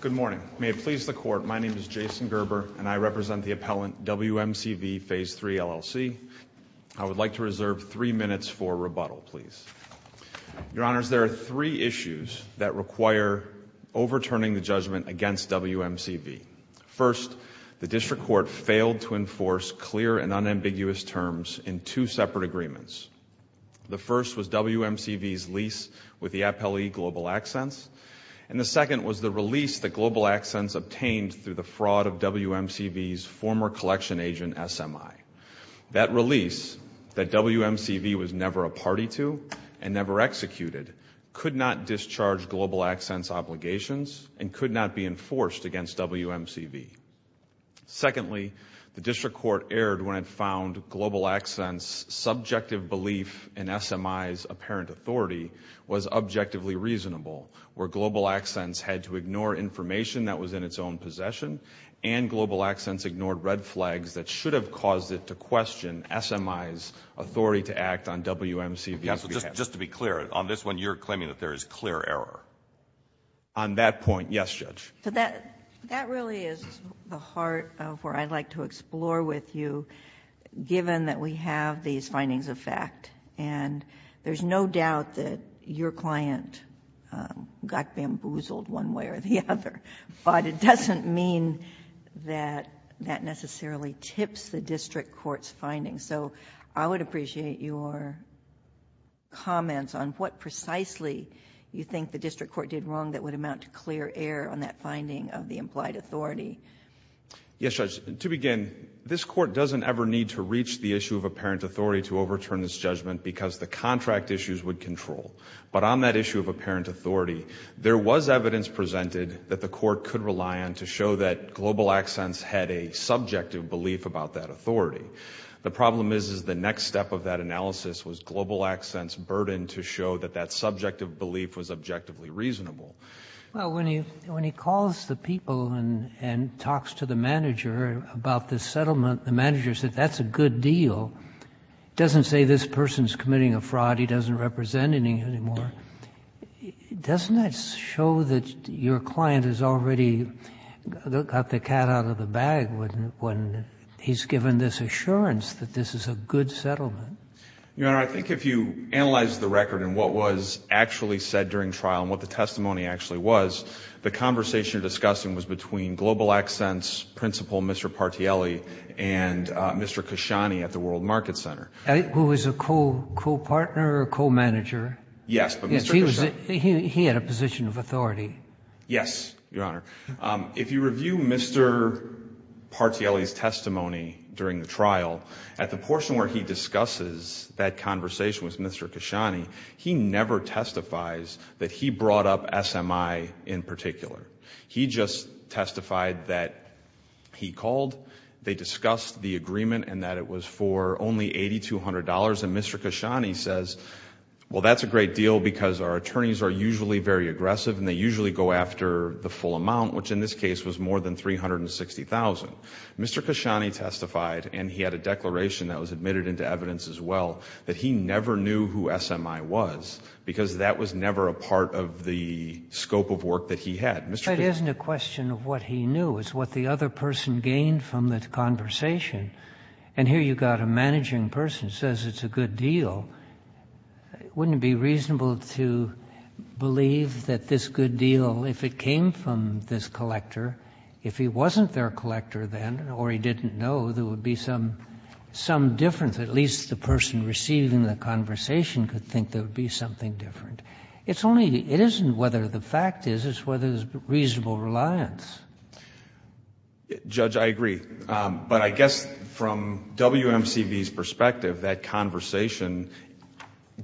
Good morning. May it please the Court, my name is Jason Gerber, and I represent the appellant WMCV Phase 3, LLC. I would like to reserve three minutes for rebuttal, please. Your Honors, there are three issues that require overturning the judgment against WMCV. First, the District Court failed to enforce clear and unambiguous terms in two separate agreements. The first was WMCV's lease with the appellee Global Accents, and the second was the release that Global Accents obtained through the fraud of WMCV's former collection agent, SMI. That release, that WMCV was never a party to and never executed, could not discharge Global Accents' obligations and could not be enforced against WMCV. Secondly, the District Court erred when it found Global Accents' subjective belief in SMI's apparent authority was objectively reasonable, where Global Accents had to ignore information that was in its own possession, and Global Accents ignored red flags that should have caused it to question SMI's authority to act on WMCV's behalf. Yes, so just to be clear, on this one you're claiming that there is clear error? On that point, yes, Judge. So that really is the heart of where I'd like to explore with you, given that we have these findings of fact, and there's no doubt that your client got bamboozled one way or the other, but it doesn't mean that that necessarily tips the District Court's findings. So I would appreciate your comments on what precisely you think the District Court did wrong that would amount to clear error on that finding of the implied authority. Yes, Judge. To begin, this Court doesn't ever need to reach the issue of apparent authority to overturn this judgment because the contract issues would control. But on that issue of apparent authority, there was evidence presented that the Court could rely on to show that Global Accents had a subjective belief about that authority. The problem is the next step of that analysis was Global Accents' burden to show that that subjective belief was objectively reasonable. Well, when he calls the people and talks to the manager about this settlement, the manager said, that's a good deal. It doesn't say this person is committing a fraud, he doesn't represent any anymore. Doesn't that show that your client has already got the cat out of the bag when he's given this assurance that this is a good settlement? Your Honor, I think if you analyze the record and what was actually said during trial and what the testimony actually was, the conversation you're discussing was between Global Accents' principal, Mr. Partielli, and Mr. Kashani at the World Market Center. Who was a co-partner or a co-manager? Yes. He had a position of authority. Yes, Your Honor. If you review Mr. Partielli's testimony during the trial, at the portion where he discusses that conversation with Mr. Kashani, he never testifies that he brought up SMI in particular. He just testified that he called, they discussed the agreement and that it was for only $8,200, and Mr. Kashani says, well, that's a great deal because our attorneys are usually very aggressive and they usually go after the full amount, which in this case was more than $360,000. Mr. Kashani testified, and he had a declaration that was admitted into evidence as well, that he never knew who SMI was because that was never a part of the scope of work that he had. That isn't a question of what he knew. It's what the other person gained from the conversation. And here you've got a managing person who says it's a good deal. Wouldn't it be reasonable to believe that this good deal, if it came from this collector, if he wasn't their collector then, or he didn't know, there would be some difference. At least the person receiving the conversation could think there would be something different. It's only, it isn't whether the fact is, it's whether there's reasonable reliance. Judge, I agree. But I guess from WMCV's perspective, that conversation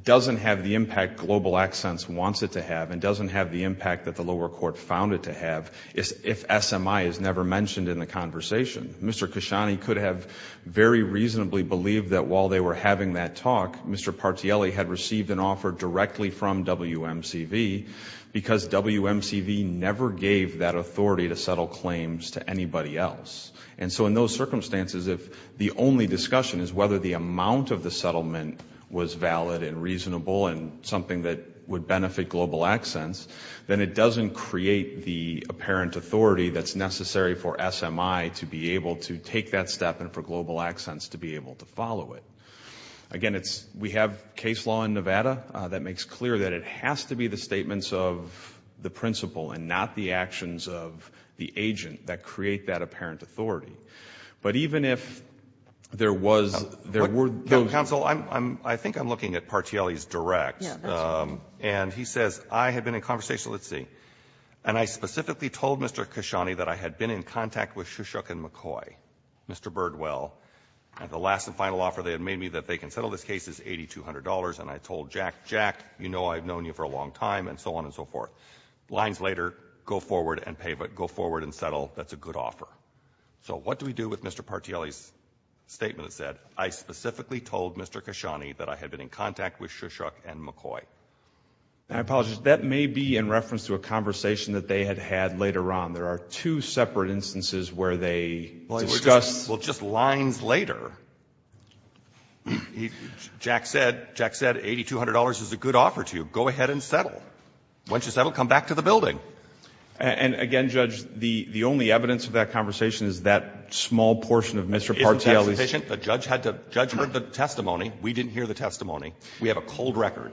doesn't have the impact Global Accents wants it to have and doesn't have the impact that the lower court found it to have if SMI is never mentioned in the conversation. Mr. Kashani could have very reasonably believed that while they were having that talk, Mr. Partielli had received an offer directly from WMCV because WMCV never gave that authority to settle claims to anybody else. And so in those circumstances, if the only discussion is whether the amount of the settlement was valid and reasonable and something that would benefit Global Accents, then it doesn't create the apparent authority that's necessary for SMI to be able to take that step and for Global Accents to be able to follow it. Again, it's, we have case law in Nevada that makes clear that it has to be the statements of the principal and not the actions of the agent that create that apparent authority. But even if there was, there were no counsel, I'm, I'm, I think I'm looking at Partielli's direct. Yeah, that's right. He says, I had been in conversation, let's see, and I specifically told Mr. Kashani that I had been in contact with Shushuk and McCoy, Mr. Birdwell, and the last and final offer they had made me that they can settle this case is $8,200, and I told Jack, Jack, you know I've known you for a long time, and so on and so forth. Lines later, go forward and pay, but go forward and settle, that's a good offer. So what do we do with Mr. Partielli's statement that said, I specifically told Mr. Kashani that I had been in contact with Shushuk and McCoy? I apologize, that may be in reference to a conversation that they had had later on. There are two separate instances where they discussed. Well, just lines later, he, Jack said, Jack said $8,200 is a good offer to you. Go ahead and settle. Once you settle, come back to the building. And again, Judge, the, the only evidence of that conversation is that small portion of Mr. Partielli's. Isn't that sufficient? We didn't hear the testimony. We have a cold record.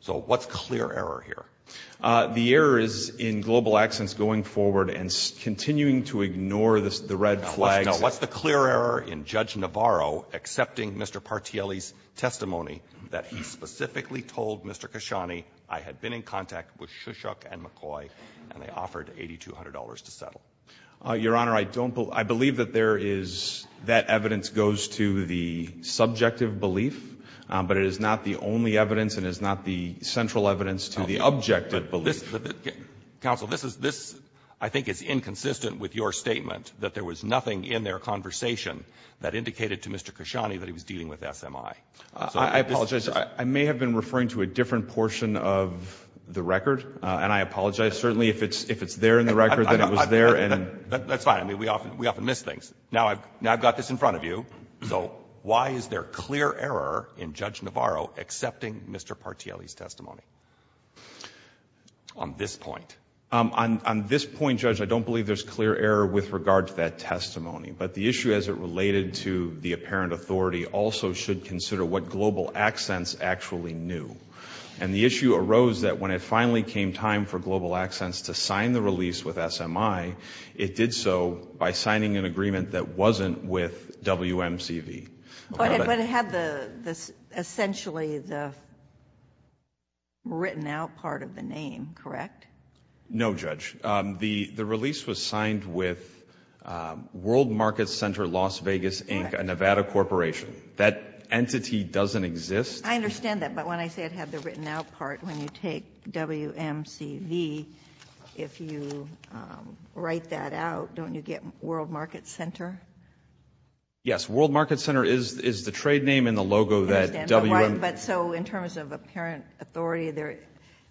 So what's clear error here? The error is in Global Accents going forward and continuing to ignore the red flags. Now, what's the clear error in Judge Navarro accepting Mr. Partielli's testimony that he specifically told Mr. Kashani I had been in contact with Shushuk and McCoy, and they offered $8,200 to settle? Your Honor, I don't believe, I believe that there is, that evidence goes to the subjective belief, but it is not the only evidence and is not the central evidence to the objective belief. Counsel, this is, this I think is inconsistent with your statement that there was nothing in their conversation that indicated to Mr. Kashani that he was dealing with SMI. I apologize. I may have been referring to a different portion of the record, and I apologize. Certainly, if it's, if it's there in the record, then it was there. That's fine. I mean, we often, we often miss things. Now I've, now I've got this in front of you. So why is there clear error in Judge Navarro accepting Mr. Partielli's testimony on this point? On, on this point, Judge, I don't believe there's clear error with regard to that testimony, but the issue as it related to the apparent authority also should consider what Global Accents actually knew, and the issue arose that when it finally came time for Global Accents to sign the release with SMI, it did so by signing an agreement that wasn't with WMCV. But it had the, the, essentially the written out part of the name, correct? No, Judge. The release was signed with World Market Center Las Vegas, Inc., a Nevada corporation. That entity doesn't exist. I understand that, but when I say it had the written out part, when you take WMCV, if you write that out, don't you get World Market Center? Yes, World Market Center is, is the trade name and the logo that WMCV. But so in terms of apparent authority, there,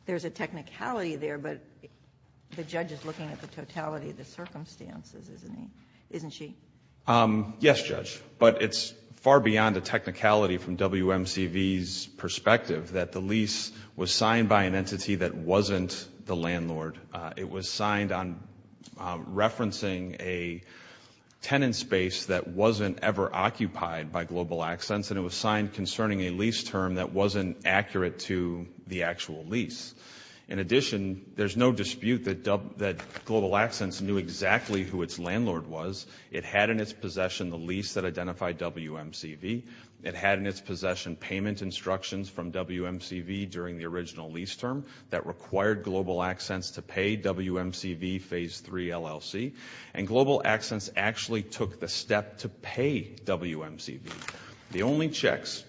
there's a technicality there, but the judge is looking at the totality of the circumstances, isn't he, isn't she? Yes, Judge, but it's far beyond the technicality from WMCV's perspective that the lease was signed by an entity that wasn't the landlord. It was signed on referencing a tenant space that wasn't ever occupied by Global Accents and it was signed concerning a lease term that wasn't accurate to the actual lease. In addition, there's no dispute that Global Accents knew exactly who its landlord was. It had in its possession the lease that identified WMCV. It had in its possession payment instructions from WMCV during the original lease term that required Global Accents to pay WMCV Phase 3 LLC and Global Accents actually took the step to pay WMCV. The only checks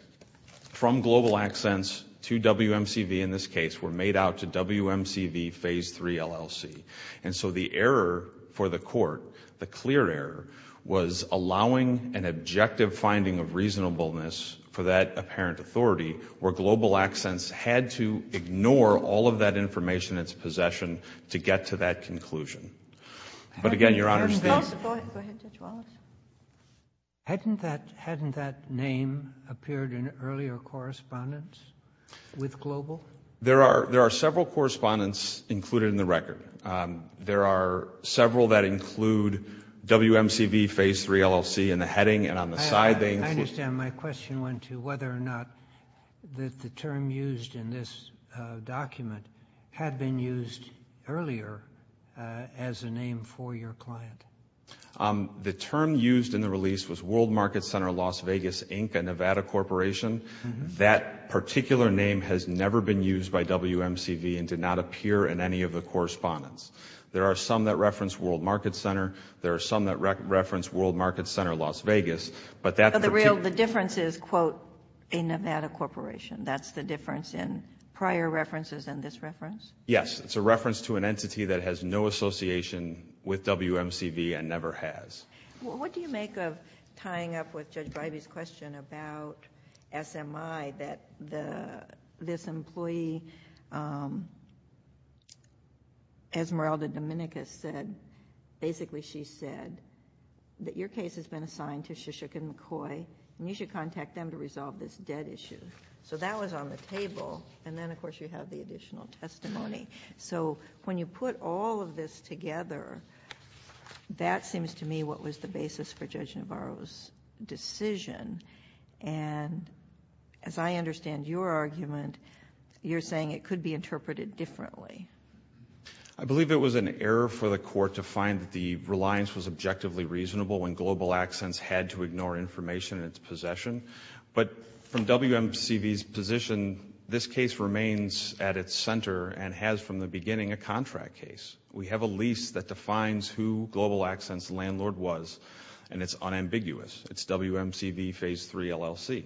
from Global Accents to WMCV in this case were made out to WMCV Phase 3 LLC and so the error for the court, the clear error, was allowing an objective finding of reasonableness for that apparent authority where Global Accents had to ignore all of that information in its possession to get to that conclusion. But again, Your Honor, it's the... Go ahead, Judge Wallace. Hadn't that name appeared in earlier correspondence with Global? There are several correspondence included in the record. There are several that include WMCV Phase 3 LLC in the heading and on the side they include... Had been used earlier as a name for your client. The term used in the release was World Market Center Las Vegas, Inc., a Nevada corporation. That particular name has never been used by WMCV and did not appear in any of the correspondence. There are some that reference World Market Center. There are some that reference World Market Center Las Vegas, but that... But the real, the difference is, quote, a Nevada corporation. That's the difference in prior references and this reference? Yes. It's a reference to an entity that has no association with WMCV and never has. What do you make of tying up with Judge Bivey's question about SMI, that this employee, Esmeralda Dominicus said, basically she said, that your case has been assigned to Shishook and McCoy and you should contact them to resolve this debt issue. So that was on the table and then, of course, you have the additional testimony. So when you put all of this together, that seems to me what was the basis for Judge Navarro's decision and as I understand your argument, you're saying it could be interpreted differently. I believe it was an error for the court to find that the reliance was objectively reasonable when Global Accents had to ignore information in its possession. But from WMCV's position, this case remains at its center and has, from the beginning, a contract case. We have a lease that defines who Global Accents' landlord was and it's unambiguous. It's WMCV Phase 3 LLC.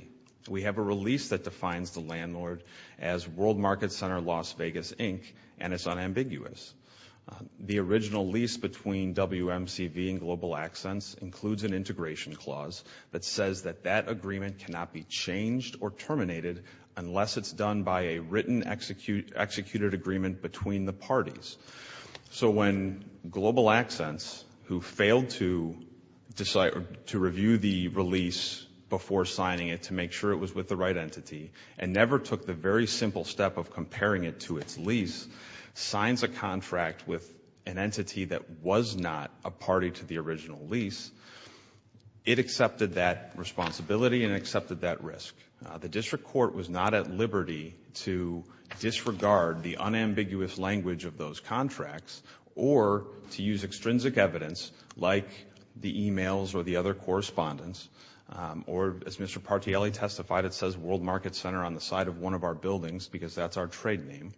We have a release that defines the landlord as World Market Center Las Vegas, Inc. and it's unambiguous. The original lease between WMCV and Global Accents includes an integration clause that says that that agreement cannot be changed or terminated unless it's done by a written executed agreement between the parties. So when Global Accents, who failed to review the release before signing it to make sure it was with the right entity and never took the very simple step of comparing it to its lease, signs a contract with an entity that was not a party to the original lease, it accepted that responsibility and accepted that risk. The district court was not at liberty to disregard the unambiguous language of those contracts or to use extrinsic evidence like the emails or the other correspondence or, as Mr. Partielli testified, it says World Market Center on the side of one of our buildings because that's our trade name.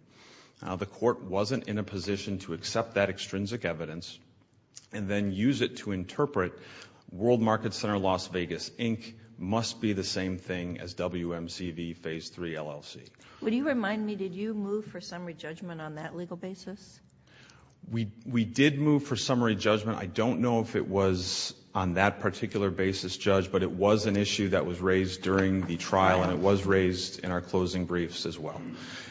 The court wasn't in a position to accept that extrinsic evidence and then use it to interpret World Market Center, Las Vegas, Inc. must be the same thing as WMCV Phase III LLC. Would you remind me, did you move for summary judgment on that legal basis? We did move for summary judgment. I don't know if it was on that particular basis judged, but it was an issue that was raised during the trial and it was raised in our closing briefs as well.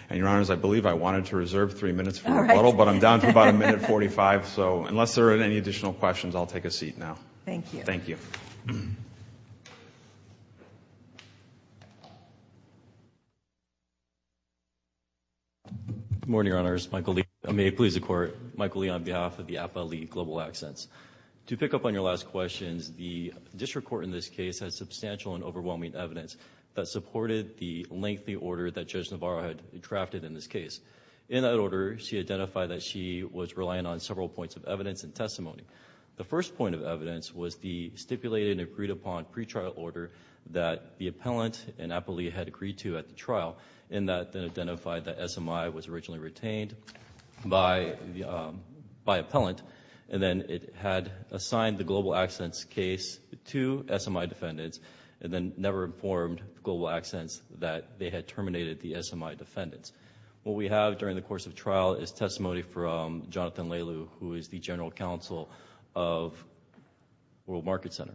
And, Your Honors, I believe I wanted to reserve three minutes for rebuttal, but I'm down to about a minute 45, so unless there are any additional questions, I'll take a seat now. Thank you. Thank you. Good morning, Your Honors. Michael Lee. May it please the Court. Michael Lee on behalf of the APA League Global Accents. To pick up on your last questions, the district court in this case has substantial and overwhelming evidence that supported the lengthy order that Judge Navarro had drafted in this case. testimony. The first point of evidence was the stipulated and agreed upon pre-trial order that the appellant and APA League had agreed to at the trial in that they identified that SMI was originally retained by appellant and then it had assigned the Global Accents case to SMI defendants and then never informed Global Accents that they had terminated the SMI defendants. What we have during the course of trial is testimony from Jonathan Lailu, who is the General Counsel of World Market Center,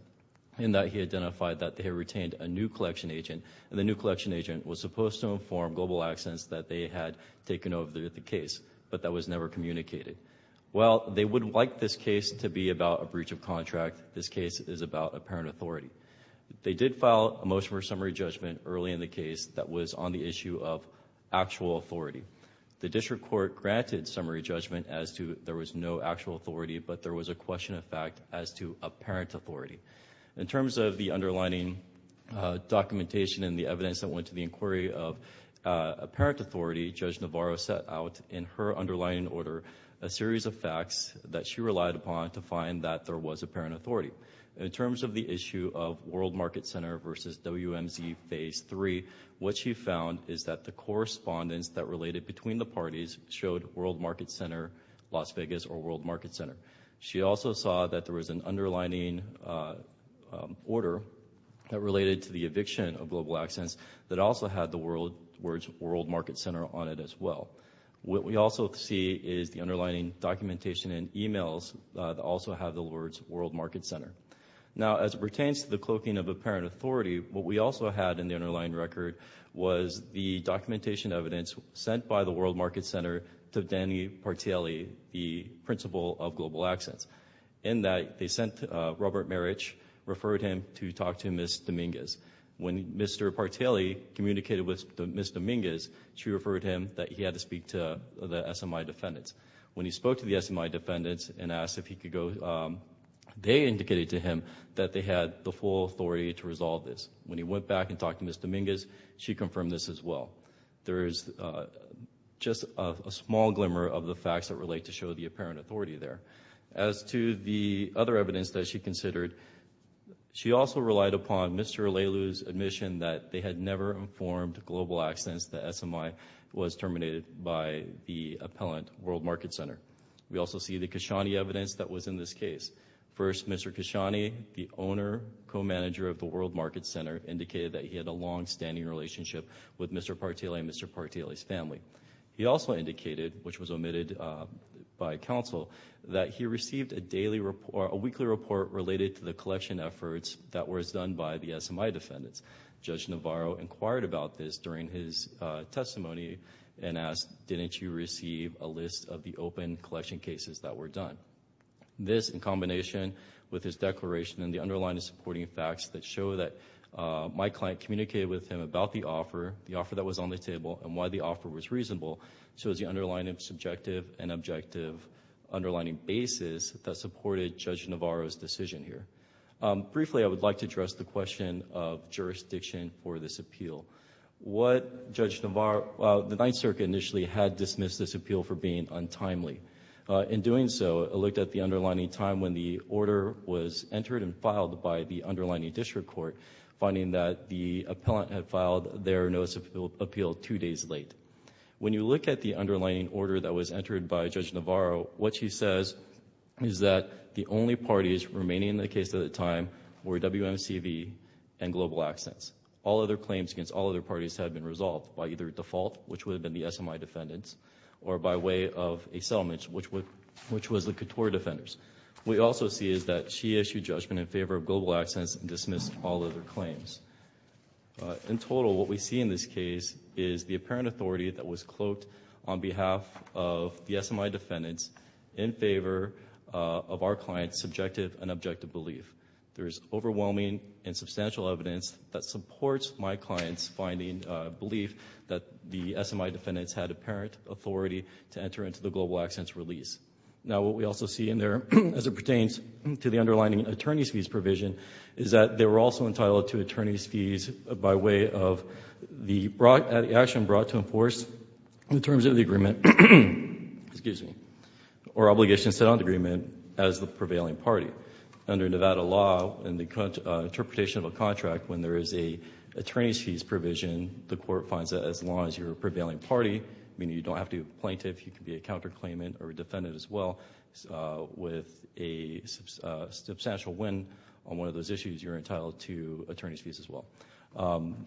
in that he identified that they retained a new collection agent and the new collection agent was supposed to inform Global Accents that they had taken over the case, but that was never communicated. While they would like this case to be about a breach of contract, this case is about apparent authority. They did file a motion for summary judgment early in the case that was on the issue of actual authority. The district court granted summary judgment as to there was no actual authority, but there was a question of fact as to apparent authority. In terms of the underlying documentation and the evidence that went to the inquiry of apparent authority, Judge Navarro set out in her underlying order a series of facts that she relied upon to find that there was apparent authority. In terms of the issue of World Market Center versus WMZ Phase 3, what she found is that the correspondence that related between the parties showed World Market Center Las Vegas or World Market Center. She also saw that there was an underlining order that related to the eviction of Global Accents that also had the words World Market Center on it as well. What we also see is the underlining documentation and emails that also have the words World Market Center. Now, as it pertains to the cloaking of apparent authority, what we also had in the underlying record was the documentation evidence sent by the World Market Center to Danny Partielli, the principal of Global Accents. In that, they sent Robert Marich, referred him to talk to Ms. Dominguez. When Mr. Partielli communicated with Ms. Dominguez, she referred him that he had to speak to the SMI defendants. When he spoke to the SMI defendants and asked if he could go, they indicated to him that they had the full authority to resolve this. When he went back and talked to Ms. Dominguez, she confirmed this as well. There is just a small glimmer of the facts that relate to show the apparent authority there. As to the other evidence that she considered, she also relied upon Mr. Leilu's admission that they had never informed Global Accents that SMI was terminated by the appellant, World Market Center. We also see the Khashoggi evidence that was in this case. First, Mr. Khashoggi, the owner, co-manager of the World Market Center, indicated that he had a long-standing relationship with Mr. Partielli and Mr. Partielli's family. He also indicated, which was omitted by counsel, that he received a weekly report related to the collection efforts that was done by the SMI defendants. Judge Navarro inquired about this during his testimony and asked, didn't you receive a list of the open collection cases that were done? This, in combination with his declaration and the underlying supporting facts that show that my client communicated with him about the offer, the offer that was on the table, and why the offer was reasonable, shows the underlying subjective and objective underlying basis that supported Judge Navarro's decision here. Briefly, I would like to address the question of jurisdiction for this appeal. What Judge Navarro, the Ninth Circuit initially had dismissed this appeal for being untimely. In doing so, it looked at the underlying time when the order was entered and filed by the underlying district court, finding that the appellant had filed their notice of appeal two days late. When you look at the underlying order that was entered by Judge Navarro, what she says is that the only parties remaining in the case at the time were WMCV and Global Accents. All other claims against all other parties had been resolved by either default, which was the Couture Defenders. What we also see is that she issued judgment in favor of Global Accents and dismissed all other claims. In total, what we see in this case is the apparent authority that was cloaked on behalf of the SMI defendants in favor of our client's subjective and objective belief. There is overwhelming and substantial evidence that supports my client's finding, belief, that the SMI defendants had apparent authority to enter into the Global Accents release. Now, what we also see in there as it pertains to the underlying attorney's fees provision is that they were also entitled to attorney's fees by way of the action brought to enforce the terms of the agreement or obligation set on the agreement as the prevailing party. Under Nevada law and the interpretation of a contract, when there is an attorney's fees provision, the court finds that as long as you're a prevailing party, meaning you don't have to be a plaintiff, you can be a counterclaimant or a defendant as well, with a substantial win on one of those issues, you're entitled to attorney's fees as well.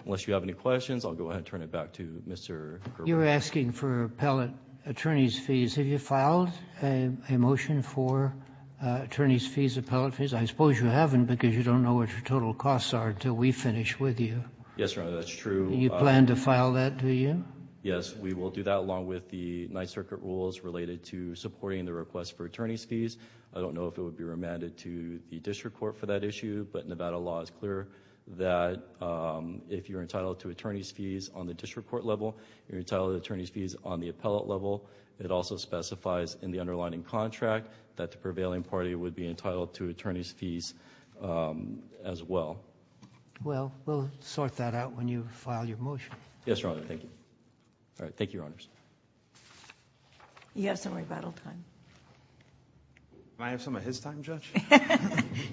Unless you have any questions, I'll go ahead and turn it back to Mr. Gerber. You're asking for appellate attorney's fees. Have you filed a motion for attorney's fees, appellate fees? I suppose you haven't because you don't know what your total costs are until we finish with you. Yes, Your Honor, that's true. You plan to file that, do you? Yes, we will do that along with the Ninth Circuit rules related to supporting the request for attorney's fees. I don't know if it would be remanded to the district court for that issue, but Nevada law is clear that if you're entitled to attorney's fees on the district court level, you're entitled to attorney's fees on the appellate level. It also specifies in the underlying contract that the prevailing party would be entitled to attorney's fees as well. Well, we'll sort that out when you file your motion. Yes, Your Honor. Thank you. All right. Thank you, Your Honors. You have some rebuttal time. Can I have some of his time, Judge?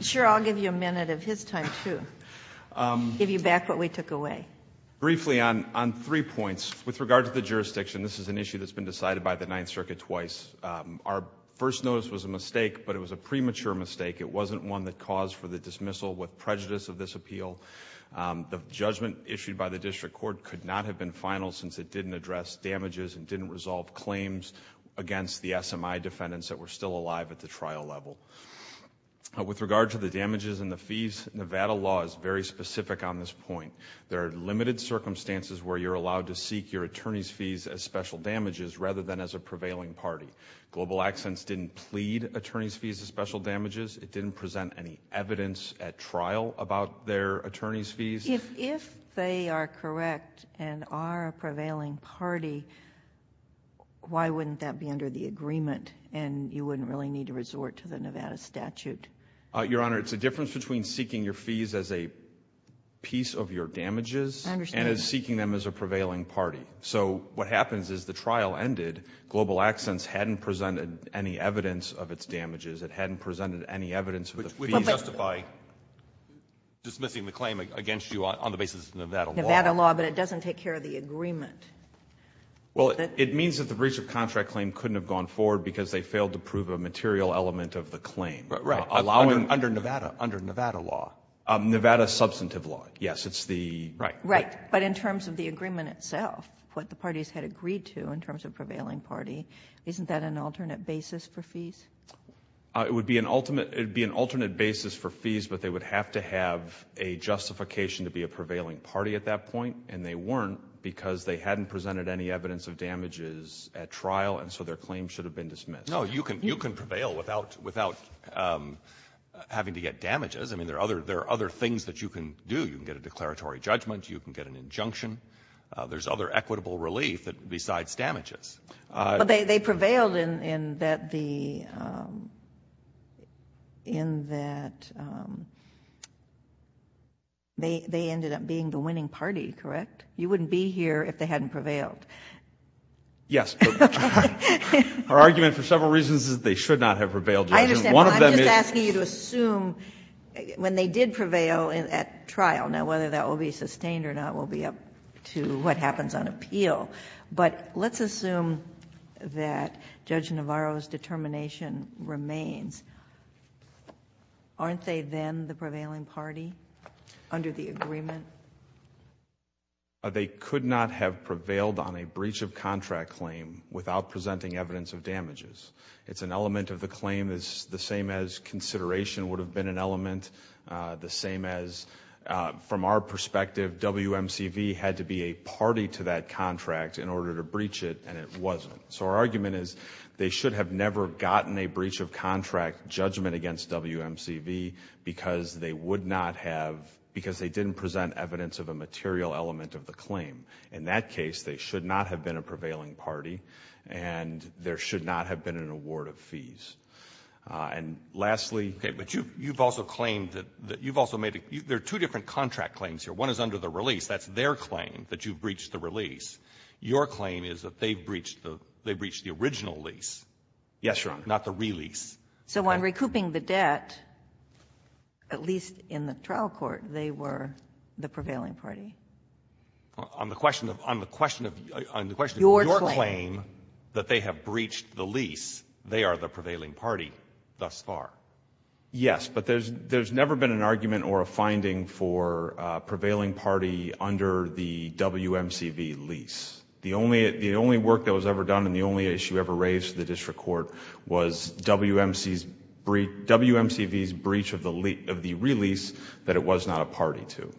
Sure. I'll give you a minute of his time, too, give you back what we took away. Briefly on three points, with regard to the jurisdiction, this is an issue that's been decided by the Ninth Circuit twice. Our first notice was a mistake, but it was a premature mistake. It wasn't one that caused for the dismissal with prejudice of this appeal. The judgment issued by the district court could not have been final since it didn't address damages and didn't resolve claims against the SMI defendants that were still alive at the trial level. With regard to the damages and the fees, Nevada law is very specific on this point. There are limited circumstances where you're allowed to seek your attorney's fees as special damages rather than as a prevailing party. Global Accents didn't plead attorney's fees as special damages. It didn't present any evidence at trial about their attorney's fees. If they are correct and are a prevailing party, why wouldn't that be under the agreement and you wouldn't really need to resort to the Nevada statute? Your Honor, it's a difference between seeking your fees as a piece of your damages and seeking them as a prevailing party. So what happens is the trial ended. Global Accents hadn't presented any evidence of its damages. It hadn't presented any evidence of the fees. But we justify dismissing the claim against you on the basis of Nevada law. Nevada law, but it doesn't take care of the agreement. Well, it means that the breach of contract claim couldn't have gone forward because they failed to prove a material element of the claim. Right. Under Nevada. Under Nevada law. Nevada substantive law. Yes. It's the right. Right. But in terms of the agreement itself, what the parties had agreed to in terms of prevailing party, isn't that an alternate basis for fees? It would be an alternate basis for fees, but they would have to have a justification to be a prevailing party at that point, and they weren't because they hadn't presented any evidence of damages at trial, and so their claim should have been dismissed. No, you can prevail without having to get damages. I mean, there are other things that you can do. You can get a declaratory judgment. You can get an injunction. There's other equitable relief besides damages. But they prevailed in that the they ended up being the winning party, correct? You wouldn't be here if they hadn't prevailed. Yes. Our argument for several reasons is that they should not have prevailed. I understand. I'm just asking you to assume when they did prevail at trial, now whether that will be sustained or not will be up to what happens on appeal. But let's assume that Judge Navarro's determination remains. Aren't they then the prevailing party under the agreement? They could not have prevailed on a breach of contract claim without presenting evidence of damages. It's an element of the claim that's the same as consideration would have been an in order to breach it, and it wasn't. So our argument is they should have never gotten a breach of contract judgment against WMCV because they would not have, because they didn't present evidence of a material element of the claim. In that case, they should not have been a prevailing party, and there should not have been an award of fees. And lastly — Okay. But you've also claimed that you've also made a — there are two different contract claims here. One is under the release. That's their claim, that you breached the release. Your claim is that they've breached the — they breached the original lease. Yes, Your Honor. Not the release. So on recouping the debt, at least in the trial court, they were the prevailing party. On the question of — on the question of — on the question of your claim that they have breached the lease, they are the prevailing party thus far. Yes. But there's — there's never been an argument or a finding for a prevailing party under the WMCV lease. The only — the only work that was ever done and the only issue ever raised to the district court was WMC's — WMCV's breach of the — of the release that it was not a party to.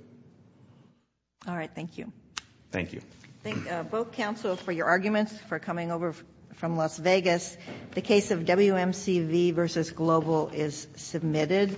All right. Thank you. Thank you. Thank both counsel for your arguments, for coming over from Las Vegas. The case of WMCV v. Global is submitted.